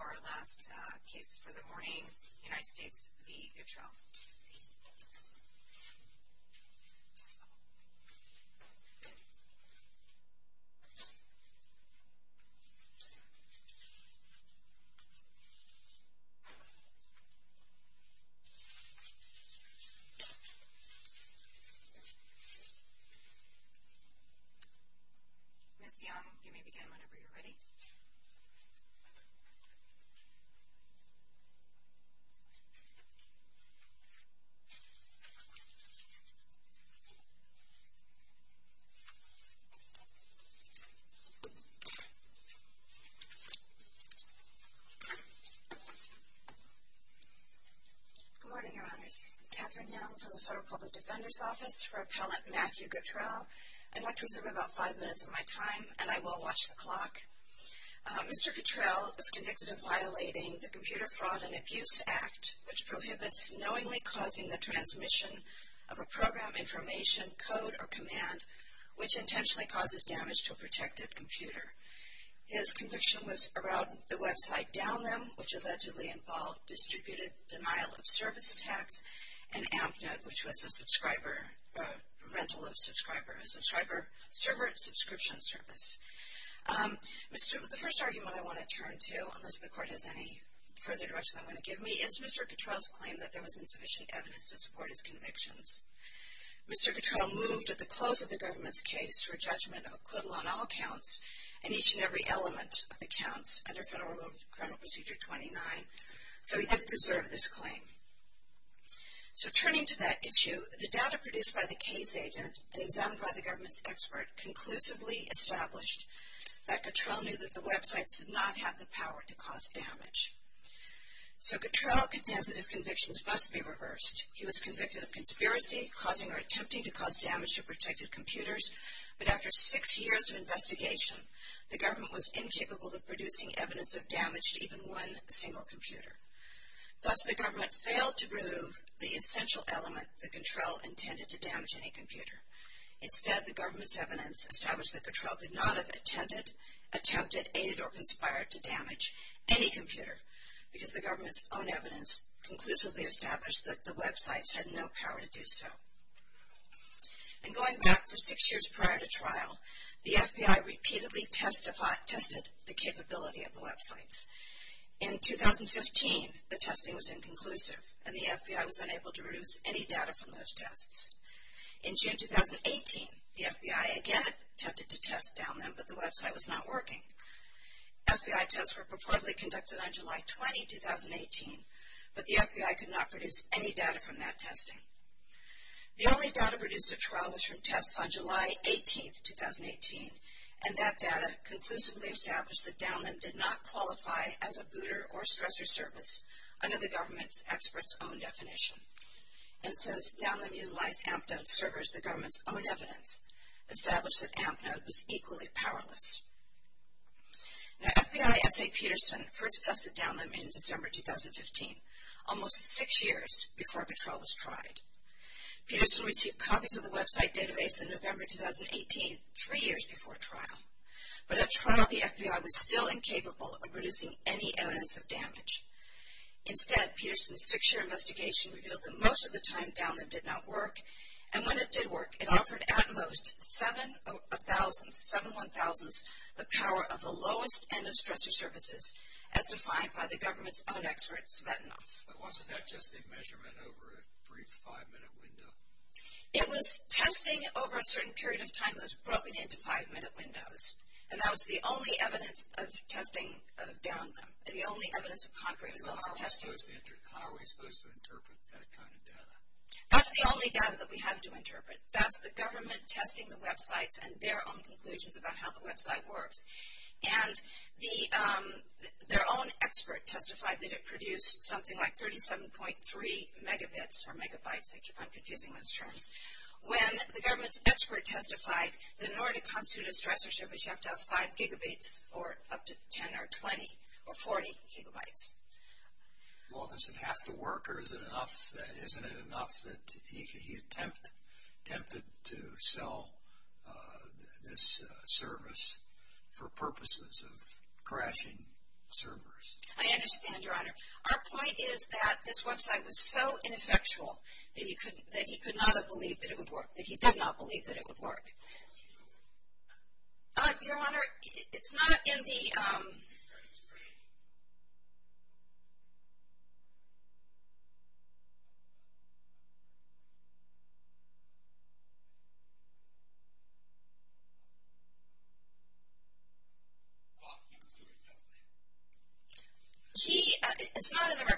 Our last case for the morning, United States v. Gatrel. Ms. Young, you may begin whenever you're ready. Ms. Young, you may begin whenever you're ready. Good morning, Your Honors. I'm Kathryn Young from the Federal Public Defender's Office for Appellant Matthew Gatrel. I'd like to reserve about five minutes of my time, and I will watch the clock. Mr. Gatrel was convicted of violating the Computer Fraud and Abuse Act, which prohibits knowingly causing the transmission of a program, information, code, or command, which intentionally causes damage to a protected computer. His conviction was around the website DownThem, which allegedly involved distributed denial of service attacks, and AmpNet, which was a subscriber, a rental of subscriber, a subscriber, server subscription service. The first argument I want to turn to, unless the Court has any further direction I want to give me, is Mr. Gatrel's claim that there was insufficient evidence to support his convictions. Mr. Gatrel moved at the close of the government's case for judgment of acquittal on all counts and each and every element of the counts under Federal Criminal Procedure 29, so he could preserve this claim. So turning to that issue, the data produced by the case agent and examined by the government's expert conclusively established that Gatrel knew that the website did not have the power to cause damage. So Gatrel contends that his convictions must be reversed. He was convicted of conspiracy, causing or attempting to cause damage to protected computers, but after six years of investigation, the government was incapable of producing evidence of damage to even one single computer. Thus, the government failed to prove the essential element that Gatrel intended to damage any computer. Instead, the government's evidence established that Gatrel could not have attempted, attempted, aided or conspired to damage any computer, because the government's own evidence conclusively established that the websites had no power to do so. And going back for six years prior to trial, the FBI repeatedly tested the capability of the websites. In 2015, the testing was inconclusive, and the FBI was unable to produce any data from those tests. In June 2018, the FBI again attempted to test down them, but the website was not working. FBI tests were purportedly conducted on July 20, 2018, but the FBI could not produce any data from that testing. The only data produced at trial was from tests on July 18, 2018, and that data conclusively established that down them did not qualify as a booter or stressor service under the government's expert's own definition. And since down them utilized AmpNode servers, the government's own evidence established that AmpNode was equally powerless. Now, FBI S.A. Peterson first tested down them in December 2015, almost six years before Gatrel was tried. Peterson received copies of the website database in November 2018, three years before trial. But at trial, the FBI was still incapable of producing any evidence of damage. Instead, Peterson's six-year investigation revealed that most of the time down them did not work, and when it did work, it offered at most seven-one-thousandths the power of the lowest end of stressor services, as defined by the government's own expert, Smetanoff. But wasn't that just a measurement over a brief five-minute window? It was testing over a certain period of time that was broken into five-minute windows, and that was the only evidence of testing down them, the only evidence of concrete results of testing. How are we supposed to interpret that kind of data? That's the only data that we have to interpret. That's the government testing the websites and their own conclusions about how the website works. And their own expert testified that it produced something like 37.3 megabits or megabytes. I keep on confusing those terms. When the government's expert testified that in order to constitute a stressor service, you have to have five gigabits or up to 10 or 20 or 40 gigabytes. Well, does it have to work, or isn't it enough that he attempted to sell this service for purposes of crashing servers? I understand, Your Honor. Our point is that this website was so ineffectual that he could not have believed that it would work, that he did not believe that it would work. What was he doing? Your Honor, it's not in the record.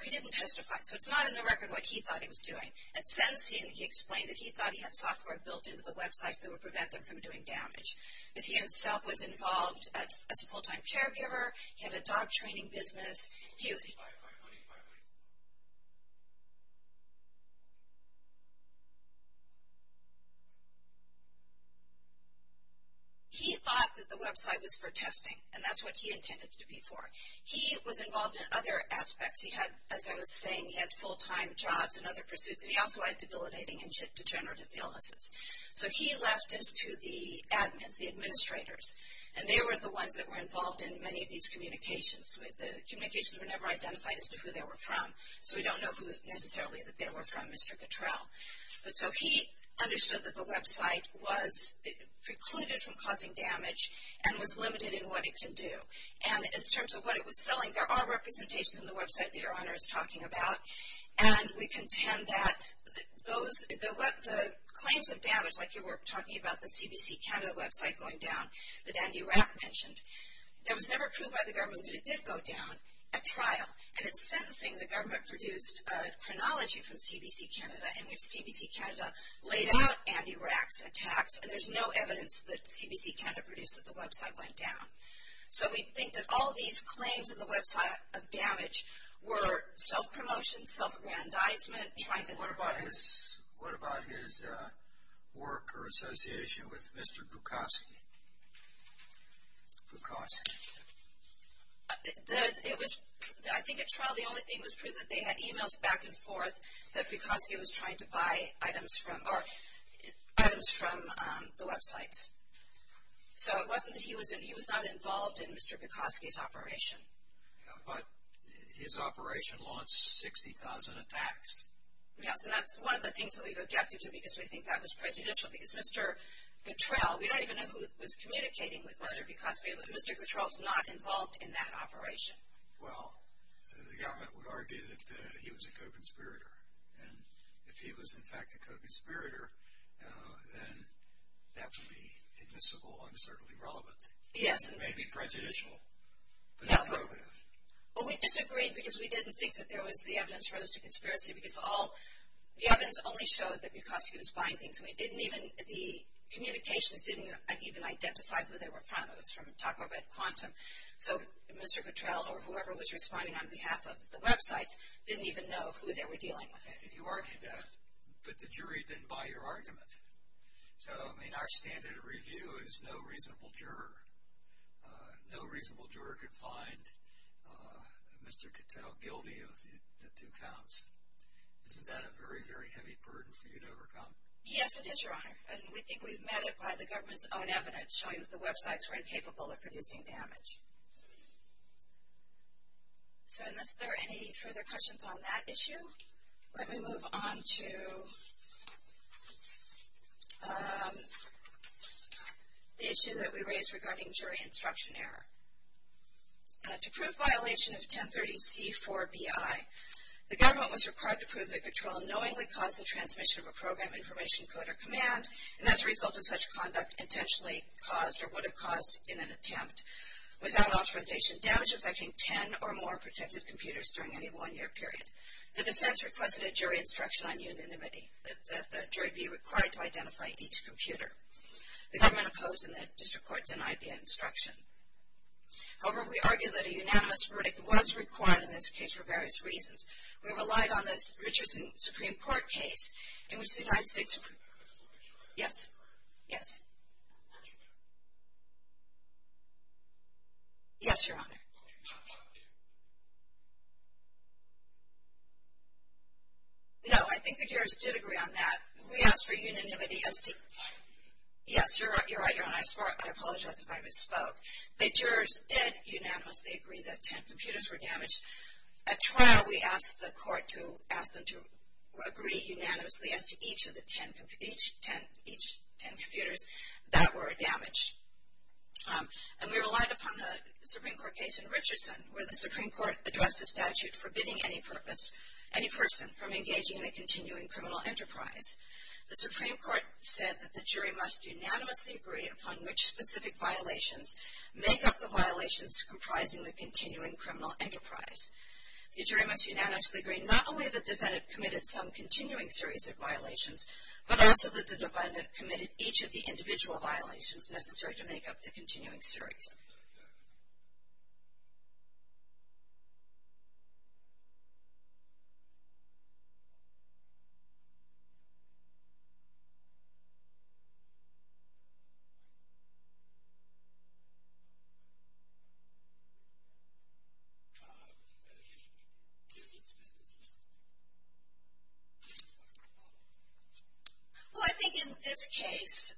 He didn't testify, so it's not in the record what he thought he was doing. And since he explained that he thought he had software built into the website that would prevent them from doing damage, that he himself was involved as a full-time caregiver, he had a dog training business. He thought that the website was for testing, and that's what he intended it to be for. He was involved in other aspects. He had, as I was saying, he had full-time jobs and other pursuits, and he also had debilitating and degenerative illnesses. So he left this to the admins, the administrators, and they were the ones that were involved in many of these communications. The communications were never identified as to who they were from, so we don't know necessarily who they were from, Mr. Cottrell. So he understood that the website precluded from causing damage and was limited in what it can do. And in terms of what it was selling, there are representations on the website that Your Honor is talking about, and we contend that the claims of damage, like you were talking about the CBC Canada website going down that Andy Rack mentioned, that was never approved by the government, but it did go down at trial. And at sentencing, the government produced a chronology from CBC Canada, and CBC Canada laid out Andy Rack's attacks, and there's no evidence that CBC Canada produced that the website went down. So we think that all of these claims of the website of damage were self-promotion, self-aggrandizement, trying to... What about his work or association with Mr. Pukowski? Pukowski. I think at trial the only thing was proof that they had e-mails back and forth that Pukowski was trying to buy items from the websites. So it wasn't that he was not involved in Mr. Pukowski's operation. But his operation launched 60,000 attacks. Yes, and that's one of the things that we've objected to, because we think that was prejudicial, because Mr. Guttrell, we don't even know who was communicating with Mr. Pukowski, but Mr. Guttrell was not involved in that operation. Well, the government would argue that he was a co-conspirator. And if he was in fact a co-conspirator, then that would be admissible and certainly relevant. Yes. It may be prejudicial. Well, we disagreed because we didn't think that the evidence rose to conspiracy, because the evidence only showed that Pukowski was buying things. The communications didn't even identify who they were from. It was from Taco Red Quantum. So Mr. Guttrell or whoever was responding on behalf of the websites didn't even know who they were dealing with. You argued that, but the jury didn't buy your argument. So, I mean, our standard review is no reasonable juror. No reasonable juror could find Mr. Guttrell guilty of the two counts. Isn't that a very, very heavy burden for you to overcome? Yes, it is, Your Honor. And we think we've met it by the government's own evidence showing that the websites were incapable of producing damage. So unless there are any further questions on that issue, let me move on to the issue that we raised regarding jury instruction error. To prove violation of 1030C4BI, the government was required to prove that Guttrell knowingly caused the transmission of a program, information, code, or command, and as a result of such conduct intentionally caused or would have caused in an attempt, without authorization, damage affecting 10 or more protected computers during any one-year period. The defense requested a jury instruction on unanimity that the jury be required to identify each computer. The government opposed and the district court denied the instruction. However, we argue that a unanimous verdict was required in this case for various reasons. We relied on this Richardson Supreme Court case in which the United States... Yes, yes. Yes, Your Honor. No, I think the jurors did agree on that. We asked for unanimity as to... Yes, you're right, Your Honor. I apologize if I misspoke. The jurors did unanimously agree that 10 computers were damaged. At trial, we asked the court to ask them to agree unanimously as to each of the 10 computers that were damaged. And we relied upon the Supreme Court case in Richardson where the Supreme Court addressed the statute forbidding any person from engaging in a continuing criminal enterprise. The Supreme Court said that the jury must unanimously agree upon which specific violations make up the violations comprising the continuing criminal enterprise. The jury must unanimously agree not only that the defendant committed some continuing series of violations, but also that the defendant committed each of the individual violations necessary to make up the continuing series. Yes, Your Honor. Well, I think in this case,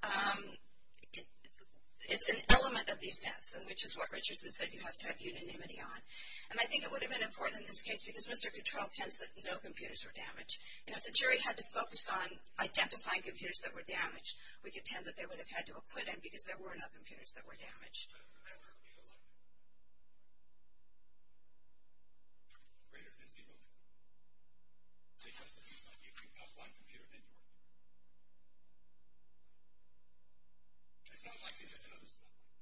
it's an element of the offense, which is what Richardson said you have to have unanimity on. And I think it would have been important in this case because Mr. Cattrall tends that no computers were damaged. And if the jury had to focus on identifying computers that were damaged, we contend that they would have had to acquit him because there were no computers that were damaged. It's not likely that another...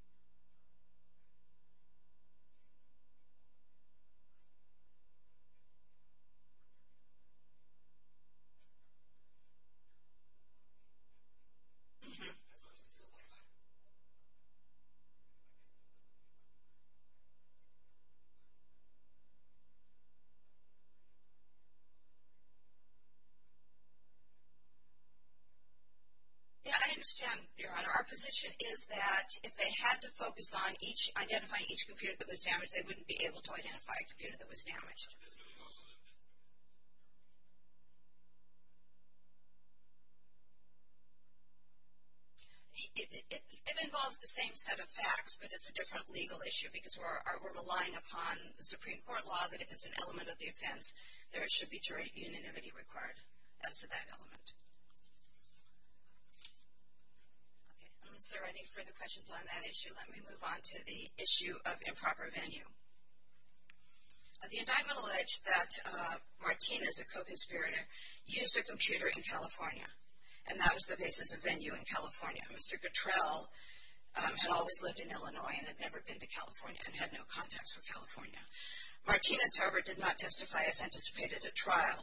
That's what it feels like. Yeah, I understand, Your Honor. Our position is that if they had to focus on identifying each computer that was damaged, they wouldn't be able to identify a computer that was damaged. would be able to identify a computer that was damaged. It involves the same set of facts, but it's a different legal issue because we're relying upon the Supreme Court law that if it's an element of the offense, there should be jury unanimity required as to that element. Okay, unless there are any further questions on that issue, let me move on to the issue of improper venue. The indictment alleged that Martinez, a co-conspirator, And that was the basis of venue in California. Mr. Guttrell had always lived in Illinois and had never been to California and had no contacts with California. Martinez, however, did not testify as anticipated at trial,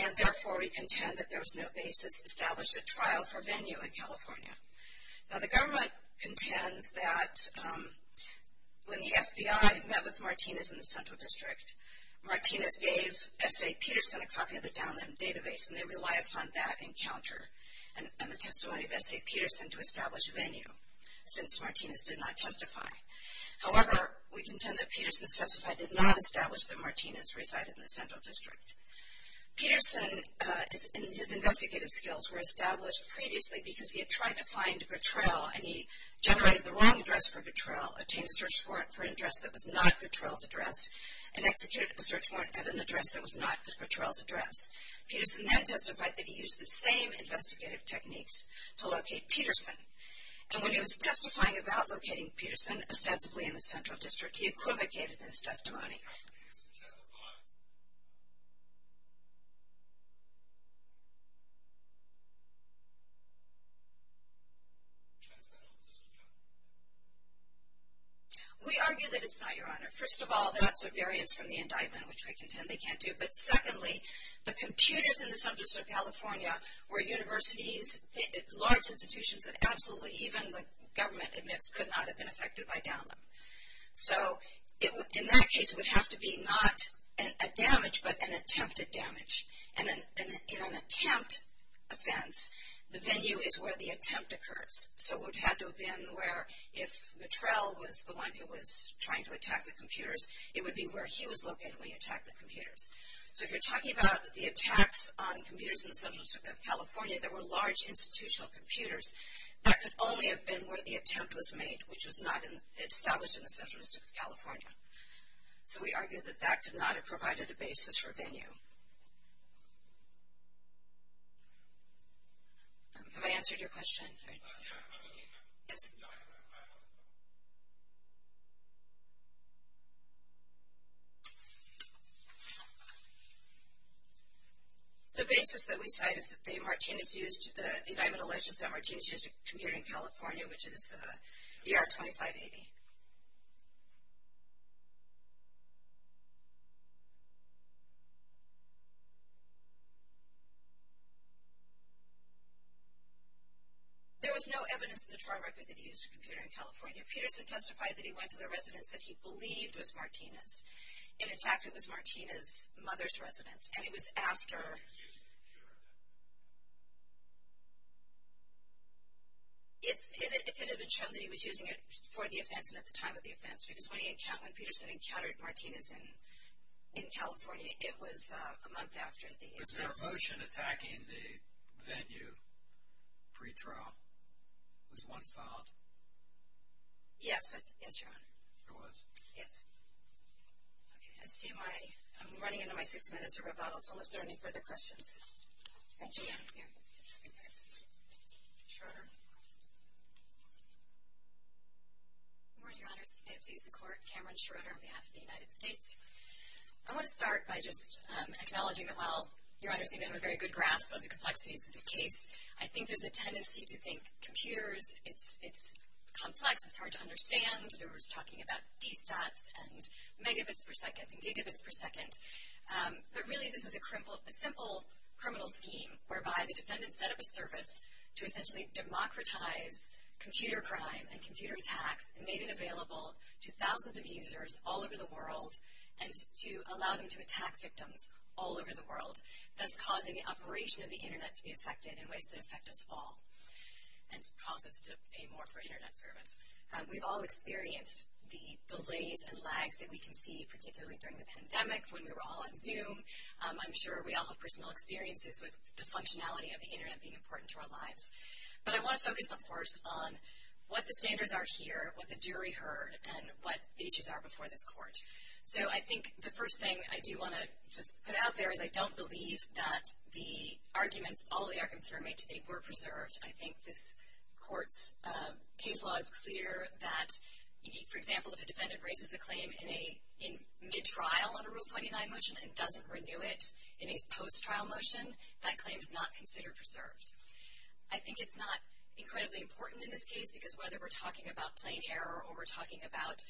and therefore we contend that there was no basis established at trial for venue in California. Now, the government contends that when the FBI met with Martinez in the Central District, Martinez gave S.A. Peterson a copy of the download database, and they rely upon that encounter. And the testimony of S.A. Peterson to establish venue, since Martinez did not testify. However, we contend that Peterson's testify did not establish that Martinez resided in the Central District. Peterson and his investigative skills were established previously because he had tried to find Guttrell, and he generated the wrong address for Guttrell, obtained a search warrant for an address that was not Guttrell's address, and executed a search warrant at an address that was not Guttrell's address. Peterson then testified that he used the same investigative techniques to locate Peterson. And when he was testifying about locating Peterson ostensibly in the Central District, he equivocated in his testimony. We argue that it's not, Your Honor. First of all, that's a variance from the indictment, which we contend they can't do. But secondly, the computers in the Central District of California were universities, large institutions that absolutely even the government admits could not have been affected by download. So in that case, it would have to be not a damage, but an attempted damage. And in an attempt offense, the venue is where the attempt occurs. So it would have to have been where if Guttrell was the one who was trying to attack the computers, it would be where he was located when he attacked the computers. So if you're talking about the attacks on computers in the Central District of California, there were large institutional computers. That could only have been where the attempt was made, which was not established in the Central District of California. So we argue that that could not have provided a basis for venue. Have I answered your question? Yes. The basis that we cite is that the Martinez used, the indictment alleges that Martinez used a computer in California, which is ER 2580. There was no evidence in the trial record that he used a computer in California. Peterson testified that he went to the residence that he believed was Martinez. And in fact, it was Martinez's mother's residence. And it was after. If it had been shown that he was using it for the offense and at the time of the offense. Because when Peterson encountered Martinez in California, it was a month after the offense. Was there a motion attacking the venue pre-trial? Was one filed? Yes. Yes, Your Honor. There was? Yes. Okay. I see my, I'm running into my six minutes of rebuttal. So is there any further questions? Thank you. Schroeder. Good morning, Your Honors. May it please the Court. Cameron Schroeder on behalf of the United States. I want to start by just acknowledging that while, Your Honors, you may have a very good grasp of the complexities of this case, I think there's a tendency to think computers, it's complex, it's hard to understand. We're just talking about D-stats and megabits per second and gigabits per second. But really this is a simple criminal scheme whereby the defendant set up a service to essentially democratize computer crime and computer attacks and made it available to thousands of users all over the world and to allow them to attack victims all over the world, thus causing the operation of the Internet to be affected in ways that affect us all and cause us to pay more for Internet service. We've all experienced the delays and lags that we can see, particularly during the pandemic when we were all on Zoom. I'm sure we all have personal experiences with the functionality of the Internet being important to our lives. But I want to focus, of course, on what the standards are here, what the jury heard, and what the issues are before this court. So I think the first thing I do want to put out there is I don't believe that the arguments, all the arguments that are made today, were preserved. I think this court's case law is clear that, for example, if a defendant raises a claim in mid-trial on a Rule 29 motion and doesn't renew it in a post-trial motion, that claim is not considered preserved. I think it's not incredibly important in this case, because whether we're talking about plain error or we're talking about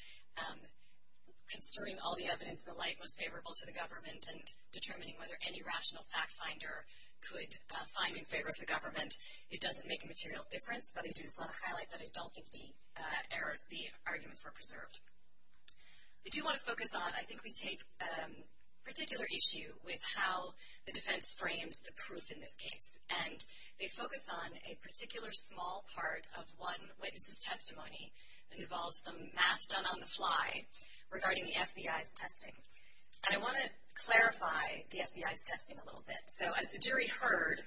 conserving all the evidence and the like most favorable to the government and determining whether any rational fact finder could find in favor of the government, it doesn't make a material difference. But I do just want to highlight that I don't think the arguments were preserved. I do want to focus on, I think we take particular issue with how the defense frames the proof in this case. And they focus on a particular small part of one witness's testimony that involves some math done on the fly regarding the FBI's testing. And I want to clarify the FBI's testing a little bit. So as the jury heard,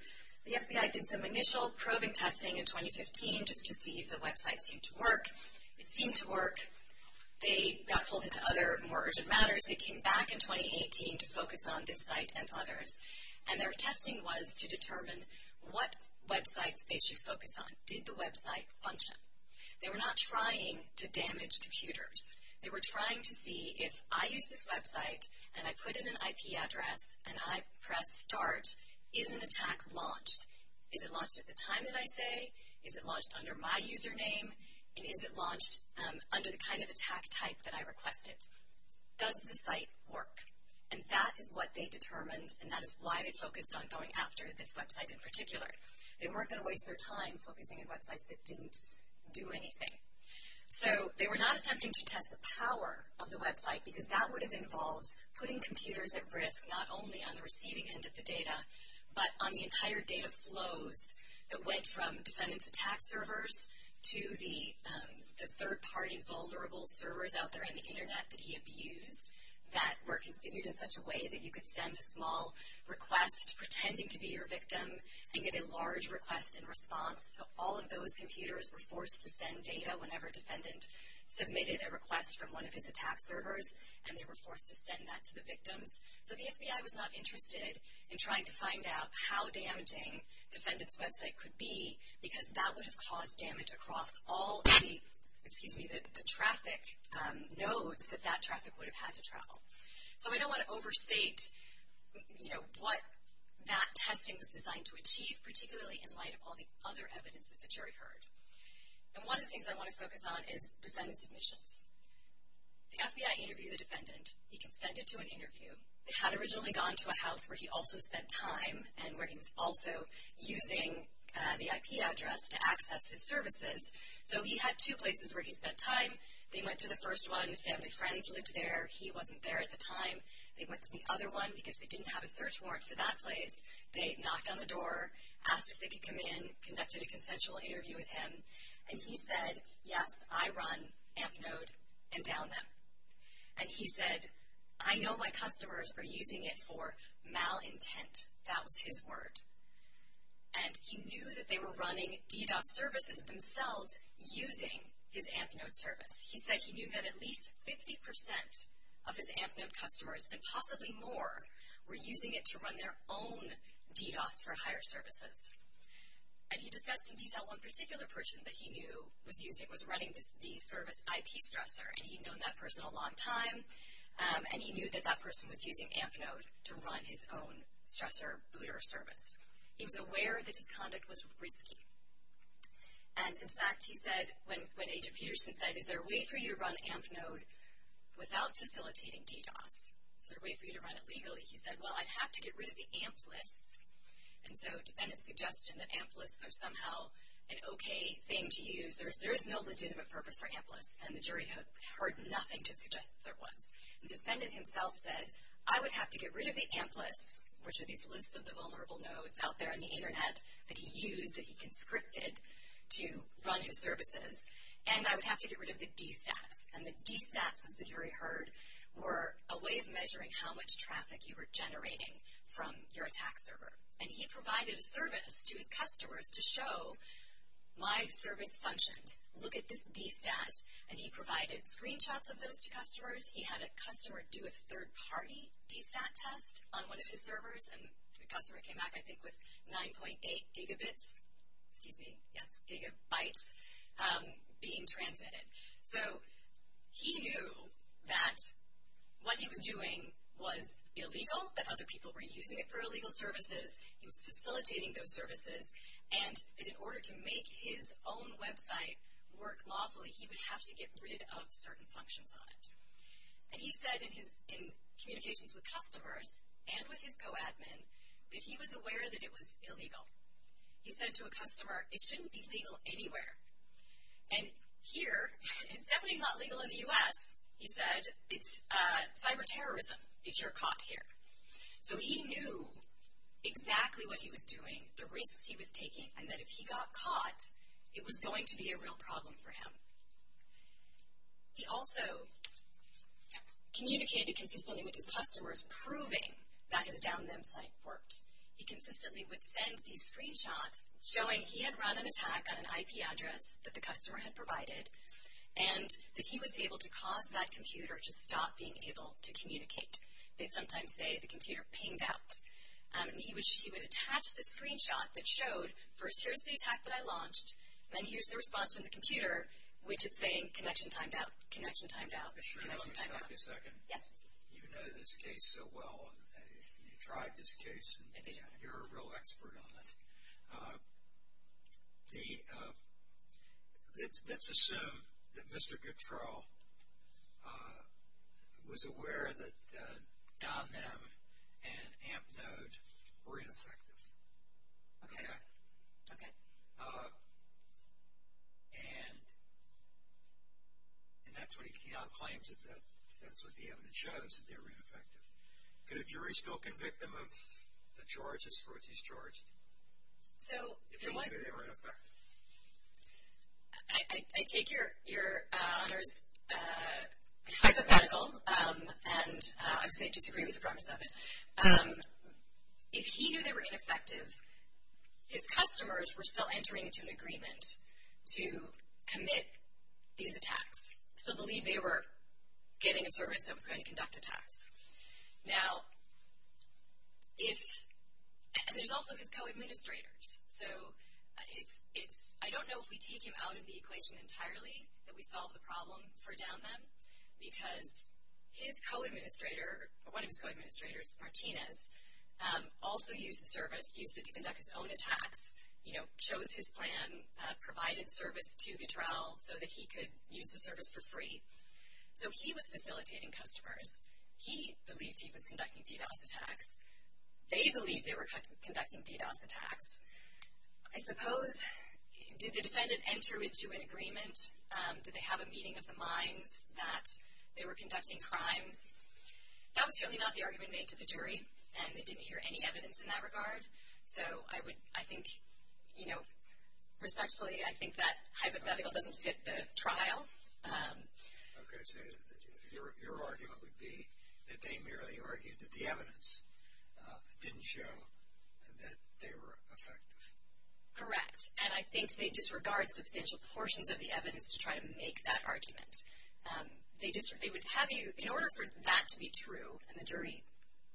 the FBI did some initial probing testing in 2015 just to see if the website seemed to work. It seemed to work. They got pulled into other more urgent matters. They came back in 2018 to focus on this site and others. And their testing was to determine what websites they should focus on. Did the website function? They were not trying to damage computers. They were trying to see if I use this website and I put in an IP address and I press start, is an attack launched? Is it launched at the time that I say? Is it launched under my username? And is it launched under the kind of attack type that I requested? Does the site work? And that is what they determined, and that is why they focused on going after this website in particular. They weren't going to waste their time focusing on websites that didn't do anything. So they were not attempting to test the power of the website because that would have involved putting computers at risk not only on the receiving end of the data, but on the entire data flows that went from defendants' attack servers to the third-party vulnerable servers out there on the Internet that he abused in such a way that you could send a small request pretending to be your victim and get a large request in response. So all of those computers were forced to send data whenever a defendant submitted a request from one of his attack servers, and they were forced to send that to the victims. So the FBI was not interested in trying to find out how damaging defendants' website could be because that would have caused damage across all of the traffic nodes that that traffic would have had to travel. So we don't want to overstate what that testing was designed to achieve, particularly in light of all the other evidence that the jury heard. And one of the things I want to focus on is defendants' admissions. The FBI interviewed the defendant. He consented to an interview. They had originally gone to a house where he also spent time and where he was also using the IP address to access his services. So he had two places where he spent time. They went to the first one. Family and friends lived there. He wasn't there at the time. They went to the other one because they didn't have a search warrant for that place. They knocked on the door, asked if they could come in, conducted a consensual interview with him. And he said, yes, I run AMP node and down them. And he said, I know my customers are using it for malintent. That was his word. And he knew that they were running DDoS services themselves using his AMP node service. He said he knew that at least 50% of his AMP node customers and possibly more were using it to run their own DDoS for higher services. And he discussed in detail one particular person that he knew was running the service IP stressor, and he'd known that person a long time, and he knew that that person was using AMP node to run his own stressor booter service. He was aware that his conduct was risky. And, in fact, he said, when Agent Peterson said, is there a way for you to run AMP node without facilitating DDoS? Is there a way for you to run it legally? He said, well, I'd have to get rid of the AMP lists. And so defendants suggested that AMP lists are somehow an okay thing to use. There is no legitimate purpose for AMP lists. And the jury heard nothing to suggest that there was. The defendant himself said, I would have to get rid of the AMP lists, which are these lists of the vulnerable nodes out there on the Internet that he used, that he conscripted to run his services, and I would have to get rid of the DStats. And the DStats, as the jury heard, were a way of measuring how much traffic you were generating from your attack server. And he provided a service to his customers to show why the service functions. Look at this DStat. And he provided screenshots of those to customers. He had a customer do a third-party DStat test on one of his servers. And the customer came back, I think, with 9.8 gigabytes being transmitted. So he knew that what he was doing was illegal, that other people were using it for illegal services. He was facilitating those services, and that in order to make his own website work lawfully, he would have to get rid of certain functions on it. And he said in communications with customers and with his co-admin that he was aware that it was illegal. He said to a customer, it shouldn't be legal anywhere. And here, it's definitely not legal in the U.S. He said, it's cyber-terrorism if you're caught here. So he knew exactly what he was doing, the risks he was taking, and that if he got caught, it was going to be a real problem for him. He also communicated consistently with his customers, proving that his down them site worked. He consistently would send these screenshots showing he had run an attack on an IP address that the customer had provided, and that he was able to cause that computer to stop being able to communicate. They sometimes say the computer pinged out. He would attach the screenshot that showed, first, here's the attack that I launched, and then here's the response from the computer, which is saying connection timed out, connection timed out, connection timed out. Let me stop you a second. Yes. You know this case so well. You tried this case. I did. You're a real expert on it. Let's assume that Mr. Guttrell was aware that down them and AMP node were ineffective. Okay. Okay. And that's what he came out and claimed, that that's what the evidence shows, that they were ineffective. Could a jury still convict him of the charges for which he's charged? If he knew they were ineffective. I take your honors hypothetical, and I would say I disagree with the premise of it. If he knew they were ineffective, his customers were still entering into an agreement to commit these attacks, still believe they were getting a service that was going to conduct attacks. Now, if, and there's also his co-administrators. So it's, I don't know if we take him out of the equation entirely, that we solve the problem for down them, because his co-administrator, one of his co-administrators, Martinez, also used the service, used it to conduct his own attacks, you know, chose his plan, provided service to Guttrell so that he could use the service for free. So he was facilitating customers. He believed he was conducting DDoS attacks. They believed they were conducting DDoS attacks. I suppose, did the defendant enter into an agreement? Did they have a meeting of the minds that they were conducting crimes? That was certainly not the argument made to the jury, and they didn't hear any evidence in that regard. So I would, I think, you know, respectfully, I think that hypothetical doesn't fit the trial. Okay. So your argument would be that they merely argued that the evidence didn't show that they were effective. Correct. And I think they disregard substantial portions of the evidence to try to make that argument. They would have you, in order for that to be true, and the jury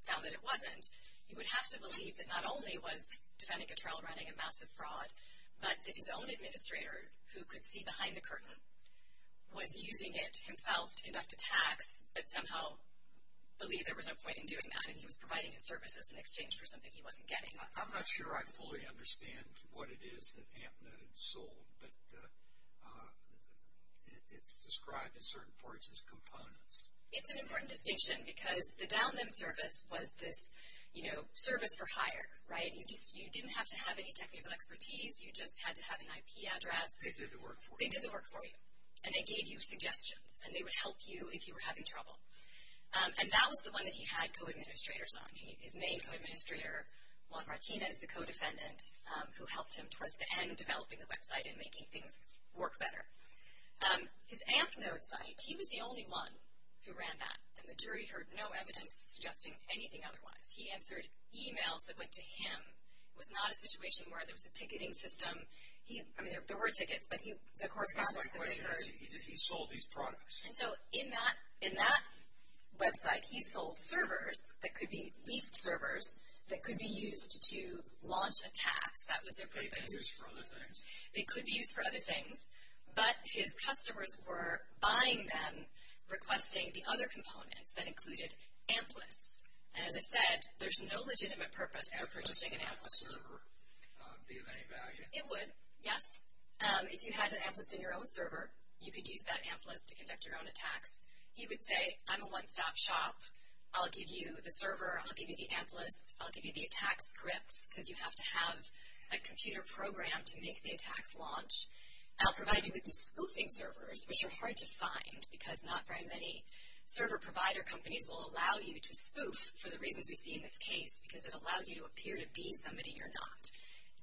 found that it wasn't, you would have to believe that not only was Defendant Guttrell running a massive fraud, but that his own administrator, who could see behind the curtain, was using it himself to conduct attacks, but somehow believed there was no point in doing that, and he was providing his services in exchange for something he wasn't getting. I'm not sure I fully understand what it is that AMPnode sold, but it's described in certain parts as components. It's an important distinction because the down them service was this, you know, service for hire, right? You didn't have to have any technical expertise. You just had to have an IP address. They did the work for you. They did the work for you, and they gave you suggestions, and they would help you if you were having trouble. And that was the one that he had co-administrators on. His main co-administrator, Juan Martinez, the co-defendant, who helped him towards the end developing the website and making things work better. His AMPnode site, he was the only one who ran that, and the jury heard no evidence suggesting anything otherwise. He answered e-mails that went to him. It was not a situation where there was a ticketing system. I mean, there were tickets, but the correspondence that they heard. He sold these products. And so in that website, he sold servers that could be leased servers that could be used to launch attacks. That was their purpose. They could be used for other things. They could be used for other things. But his customers were buying them, requesting the other components that included AMP lists. And as I said, there's no legitimate purpose for purchasing an AMP list. Would a server be of any value? It would, yes. If you had an AMP list in your own server, you could use that AMP list to conduct your own attacks. He would say, I'm a one-stop shop. I'll give you the server. I'll give you the AMP list. I'll give you the attack scripts because you have to have a computer program to make the attacks launch. And I'll provide you with the spoofing servers, which are hard to find because not very many server provider companies will allow you to spoof for the reasons we see in this case because it allows you to appear to be somebody you're not.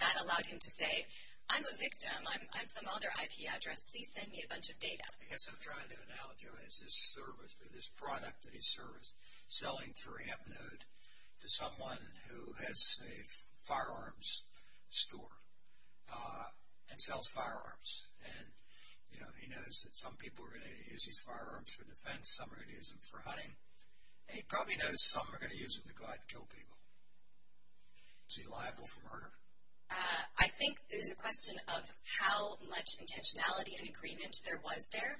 That allowed him to say, I'm a victim. I'm some other IP address. Please send me a bunch of data. I guess I'm trying to analogize this product that he serviced, selling through AMP node to someone who has a firearms store and sells firearms. And, you know, he knows that some people are going to use his firearms for defense. Some are going to use them for hunting. And he probably knows some are going to use them to go out and kill people. Is he liable for murder? I think there's a question of how much intentionality and agreement there was there.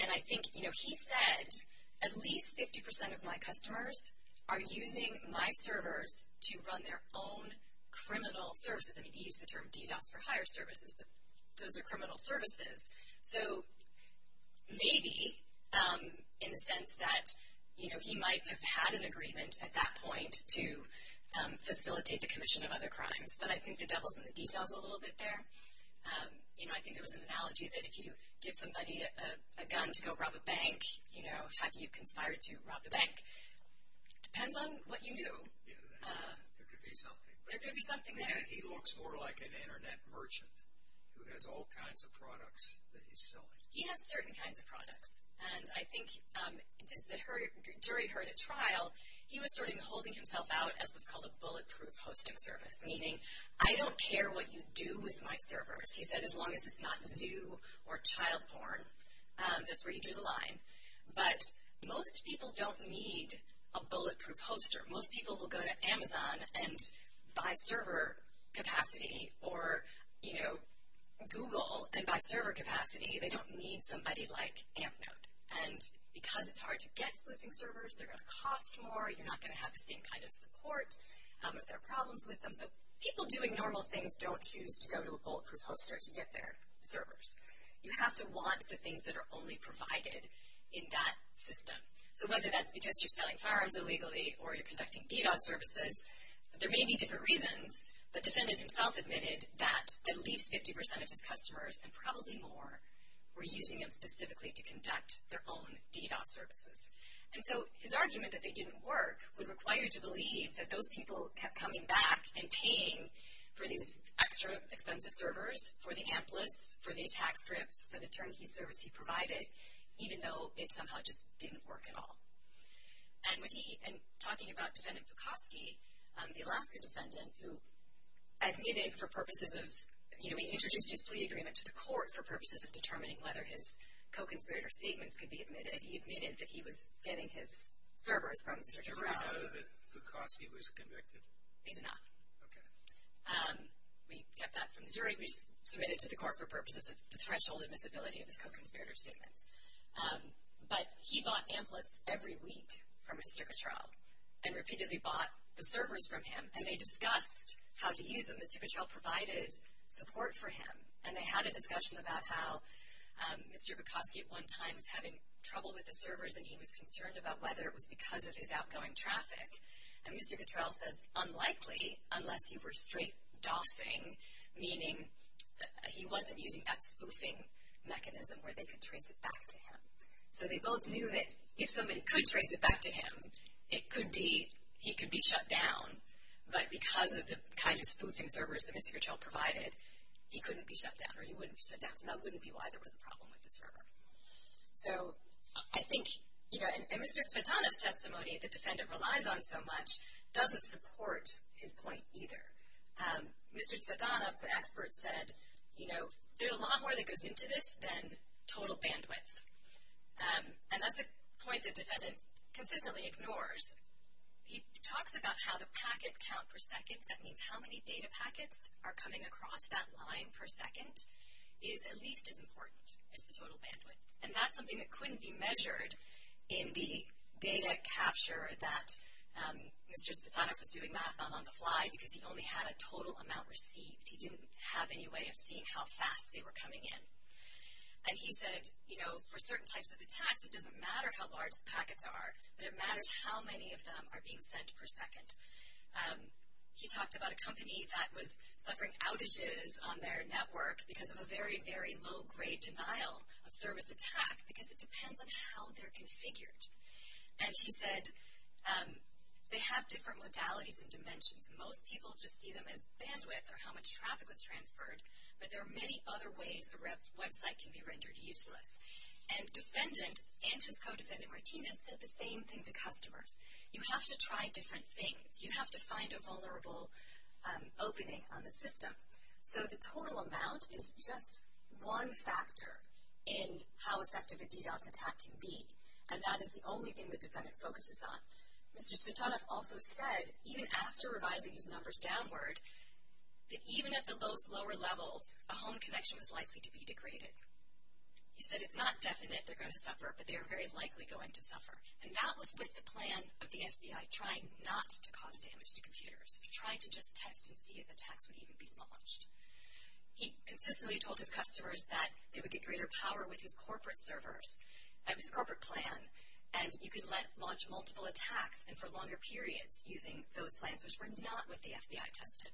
And I think, you know, he said at least 50% of my customers are using my servers to run their own criminal services. I mean, he used the term DDoS for higher services, but those are criminal services. So maybe in the sense that, you know, he might have had an agreement at that point to facilitate the commission of other crimes. But I think the devil's in the details a little bit there. You know, I think there was an analogy that if you give somebody a gun to go rob a bank, you know, have you conspired to rob the bank? Depends on what you knew. There could be something. There could be something there. He looks more like an internet merchant who has all kinds of products that he's selling. He has certain kinds of products. And I think because the jury heard at trial, he was sort of holding himself out as what's called a bulletproof hosting service, meaning I don't care what you do with my servers. He said as long as it's not zoo or child porn, that's where you drew the line. But most people don't need a bulletproof hoster. Most people will go to Amazon and buy server capacity or, you know, Google and buy server capacity. They don't need somebody like AmpNote. And because it's hard to get spoofing servers, they're going to cost more. You're not going to have the same kind of support if there are problems with them. So people doing normal things don't choose to go to a bulletproof hoster to get their servers. You have to want the things that are only provided in that system. So whether that's because you're selling firearms illegally or you're conducting DDoS services, there may be different reasons, but the defendant himself admitted that at least 50% of his customers and probably more were using him specifically to conduct their own DDoS services. And so his argument that they didn't work would require you to believe that those people kept coming back and paying for these extra expensive servers, for the Amplis, for the attack scripts, for the turnkey service he provided, even though it somehow just didn't work at all. And when he, in talking about Defendant Pukowski, the Alaska defendant who admitted for purposes of, you know, to the court for purposes of determining whether his co-conspirator statements could be admitted, he admitted that he was getting his servers from Mr. Jarrell. Did he know that Pukowski was convicted? He did not. Okay. We kept that from the jury. We just submitted it to the court for purposes of the threshold admissibility of his co-conspirator statements. But he bought Amplis every week from Mr. Jarrell and repeatedly bought the servers from him, and they discussed how to use them. Mr. Jarrell provided support for him, and they had a discussion about how Mr. Pukowski at one time was having trouble with the servers and he was concerned about whether it was because of his outgoing traffic. And Mr. Jarrell says unlikely unless you were straight dosing, meaning he wasn't using that spoofing mechanism where they could trace it back to him. So they both knew that if somebody could trace it back to him, it could be he could be shut down, but because of the kind of spoofing servers that Mr. Jarrell provided, he couldn't be shut down or he wouldn't be shut down. So that wouldn't be why there was a problem with the server. So I think, you know, in Mr. Tsvetanov's testimony, the defendant relies on so much, doesn't support his point either. Mr. Tsvetanov, the expert, said, you know, there's a lot more that goes into this than total bandwidth. And that's a point the defendant consistently ignores. He talks about how the packet count per second, that means how many data packets are coming across that line per second, is at least as important as the total bandwidth. And that's something that couldn't be measured in the data capture that Mr. Tsvetanov was doing math on on the fly because he only had a total amount received. He didn't have any way of seeing how fast they were coming in. And he said, you know, for certain types of attacks, it doesn't matter how large the packets are, but it matters how many of them are being sent per second. He talked about a company that was suffering outages on their network because of a very, very low-grade denial of service attack because it depends on how they're configured. And he said they have different modalities and dimensions. Most people just see them as bandwidth or how much traffic was transferred, but there are many other ways a website can be rendered useless. And defendant, and his co-defendant, Martinez, said the same thing to customers. You have to try different things. You have to find a vulnerable opening on the system. So the total amount is just one factor in how effective a DDoS attack can be, and that is the only thing the defendant focuses on. Mr. Tsvetanov also said, even after revising his numbers downward, that even at the lowest lower levels, a home connection was likely to be degraded. He said it's not definite they're going to suffer, but they are very likely going to suffer. And that was with the plan of the FBI trying not to cause damage to computers, to try to just test and see if attacks would even be launched. He consistently told his customers that they would get greater power with his corporate servers, and his corporate plan, and you could launch multiple attacks, and for longer periods using those plans which were not what the FBI tested.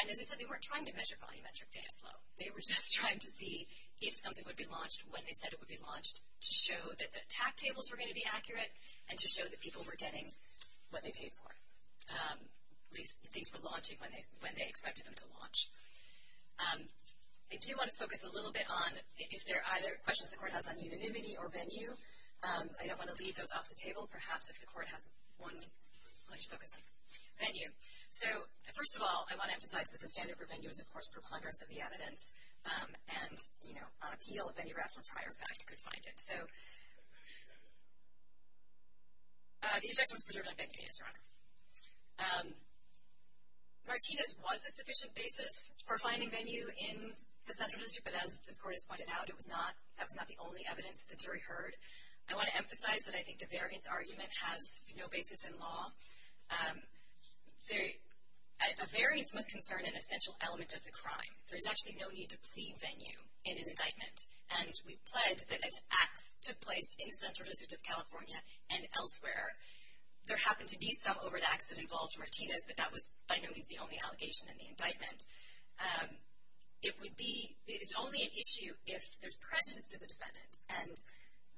And as I said, they weren't trying to measure volumetric data flow. They were just trying to see if something would be launched, when they said it would be launched, to show that the attack tables were going to be accurate, and to show that people were getting what they paid for, at least things were launching when they expected them to launch. I do want to focus a little bit on if there are either questions the Court has on unanimity or venue. I don't want to leave those off the table. Perhaps if the Court has one, I'd like to focus on venue. So first of all, I want to emphasize that the standard for venue is, of course, preponderance of the evidence and, you know, on appeal, if any rational trier of fact could find it. So the objection was preserved on venue, yes, Your Honor. Martinez was a sufficient basis for finding venue in the central district, but as the Court has pointed out, it was not. That was not the only evidence the jury heard. I want to emphasize that I think the variance argument has no basis in law. A variance must concern an essential element of the crime. There's actually no need to plead venue in an indictment, and we pled that acts took place in the central district of California and elsewhere. There happened to be some over-the-accent involved for Martinez, but that was by no means the only allegation in the indictment. It would be, it's only an issue if there's prejudice to the defendant, and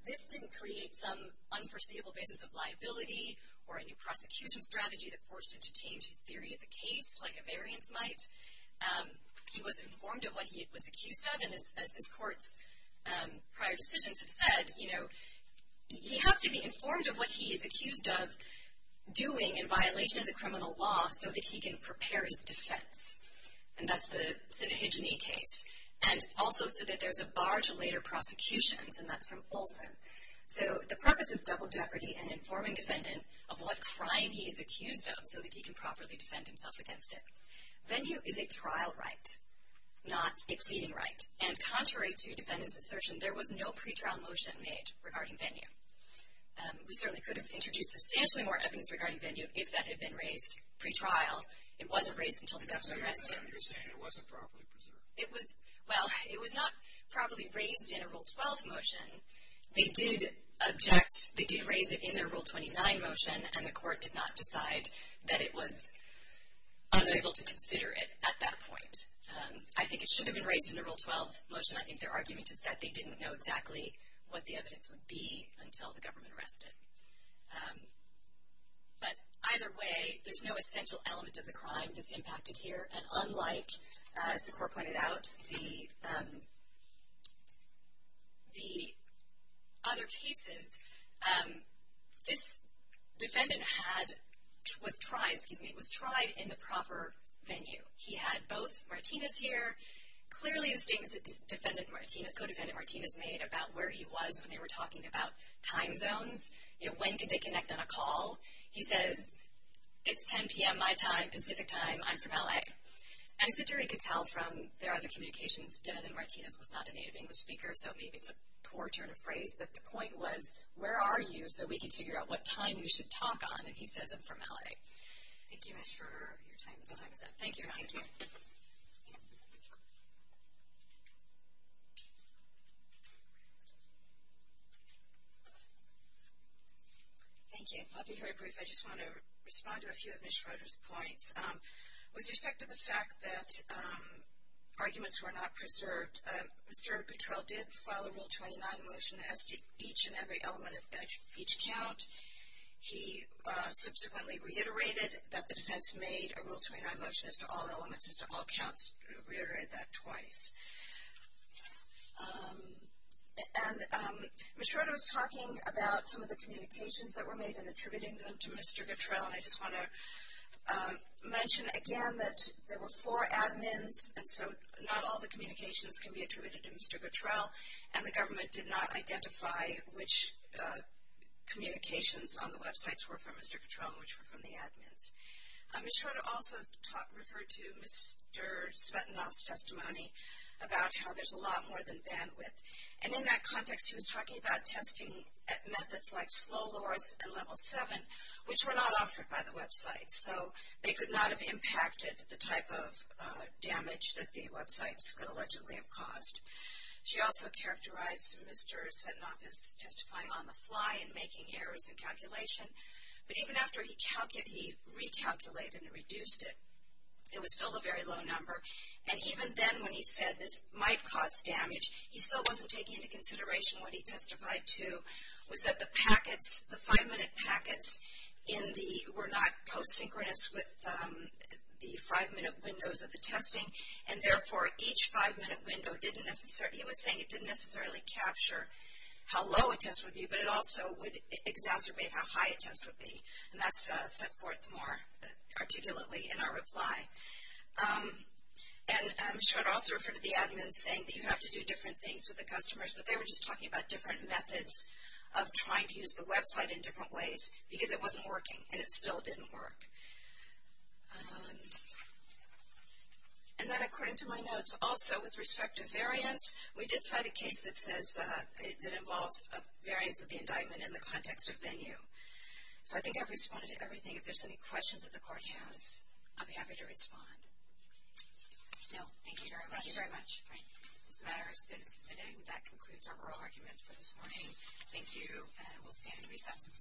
this didn't create some unforeseeable basis of liability or a new prosecution strategy that forced him to change his theory of the case like a variance might. He was informed of what he was accused of, and as this Court's prior decisions have said, you know, he has to be informed of what he is accused of doing in violation of the criminal law so that he can prepare his defense, and that's the Sinah-Hijene case, and also so that there's a bar to later prosecutions, and that's from Olson. So the purpose is double jeopardy and informing defendant of what crime he is accused of so that he can properly defend himself against it. Venue is a trial right, not a pleading right, and contrary to defendant's assertion, there was no pretrial motion made regarding venue. We certainly could have introduced substantially more evidence regarding venue if that had been raised pretrial. It wasn't raised until the government arrested him. You're saying it wasn't properly preserved. Well, it was not properly raised in a Rule 12 motion. They did object. They did raise it in their Rule 29 motion, and the Court did not decide that it was unable to consider it at that point. I think it should have been raised in a Rule 12 motion. I think their argument is that they didn't know exactly what the evidence would be until the government arrested. But either way, there's no essential element of the crime that's impacted here, and unlike, as the Court pointed out, the other cases, this defendant was tried in the proper venue. He had both Martinez here. Clearly the statements that defendant Martinez, co-defendant Martinez, made about where he was when they were talking about time zones, you know, when could they connect on a call, he says, it's 10 p.m. my time, Pacific time, I'm from L.A. And as the jury could tell from their other communications, defendant Martinez was not a native English speaker, so maybe it's a poor turn of phrase, but the point was, where are you so we can figure out what time we should talk on, and he says, I'm from L.A. Thank you, Ms. Schroeder, your time is up. Thank you. Thank you. Thank you. I'll be very brief. I just want to respond to a few of Ms. Schroeder's points. With respect to the fact that arguments were not preserved, Mr. Gutrell did file a Rule 29 motion as to each and every element of each count. He subsequently reiterated that the defense made a Rule 29 motion as to all elements, as to all counts, reiterated that twice. And Ms. Schroeder was talking about some of the communications that were made in attributing them to Mr. Gutrell, and I just want to mention again that there were four admins, and so not all the communications can be attributed to Mr. Gutrell, and the government did not identify which communications on the websites were from Mr. Gutrell and which were from the admins. Ms. Schroeder also referred to Mr. Svetlanov's testimony about how there's a lot more than bandwidth, and in that context he was talking about testing at methods like slow lowers and level 7, which were not offered by the website, so they could not have impacted the type of damage that the websites could allegedly have caused. She also characterized Mr. Svetlanov as testifying on the fly and making errors in calculation, but even after he recalculated and reduced it, it was still a very low number, and even then when he said this might cause damage, he still wasn't taking into consideration what he testified to was that the packets, the five-minute packets were not co-synchronous with the five-minute windows of the testing, and therefore each five-minute window didn't necessarily, he was saying it didn't necessarily capture how low a test would be, but it also would exacerbate how high a test would be, and that's set forth more articulately in our reply. And Ms. Schroeder also referred to the admins saying that you have to do different things with the customers, but they were just talking about different methods of trying to use the website in different ways because it wasn't working, and it still didn't work. And then according to my notes, also with respect to variance, we did cite a case that says it involves a variance of the indictment in the context of venue. So I think I've responded to everything. If there's any questions that the court has, I'll be happy to respond. No, thank you very much. Thank you very much. This matter is submitted, and that concludes our oral argument for this morning. Thank you, and we'll stand at recess.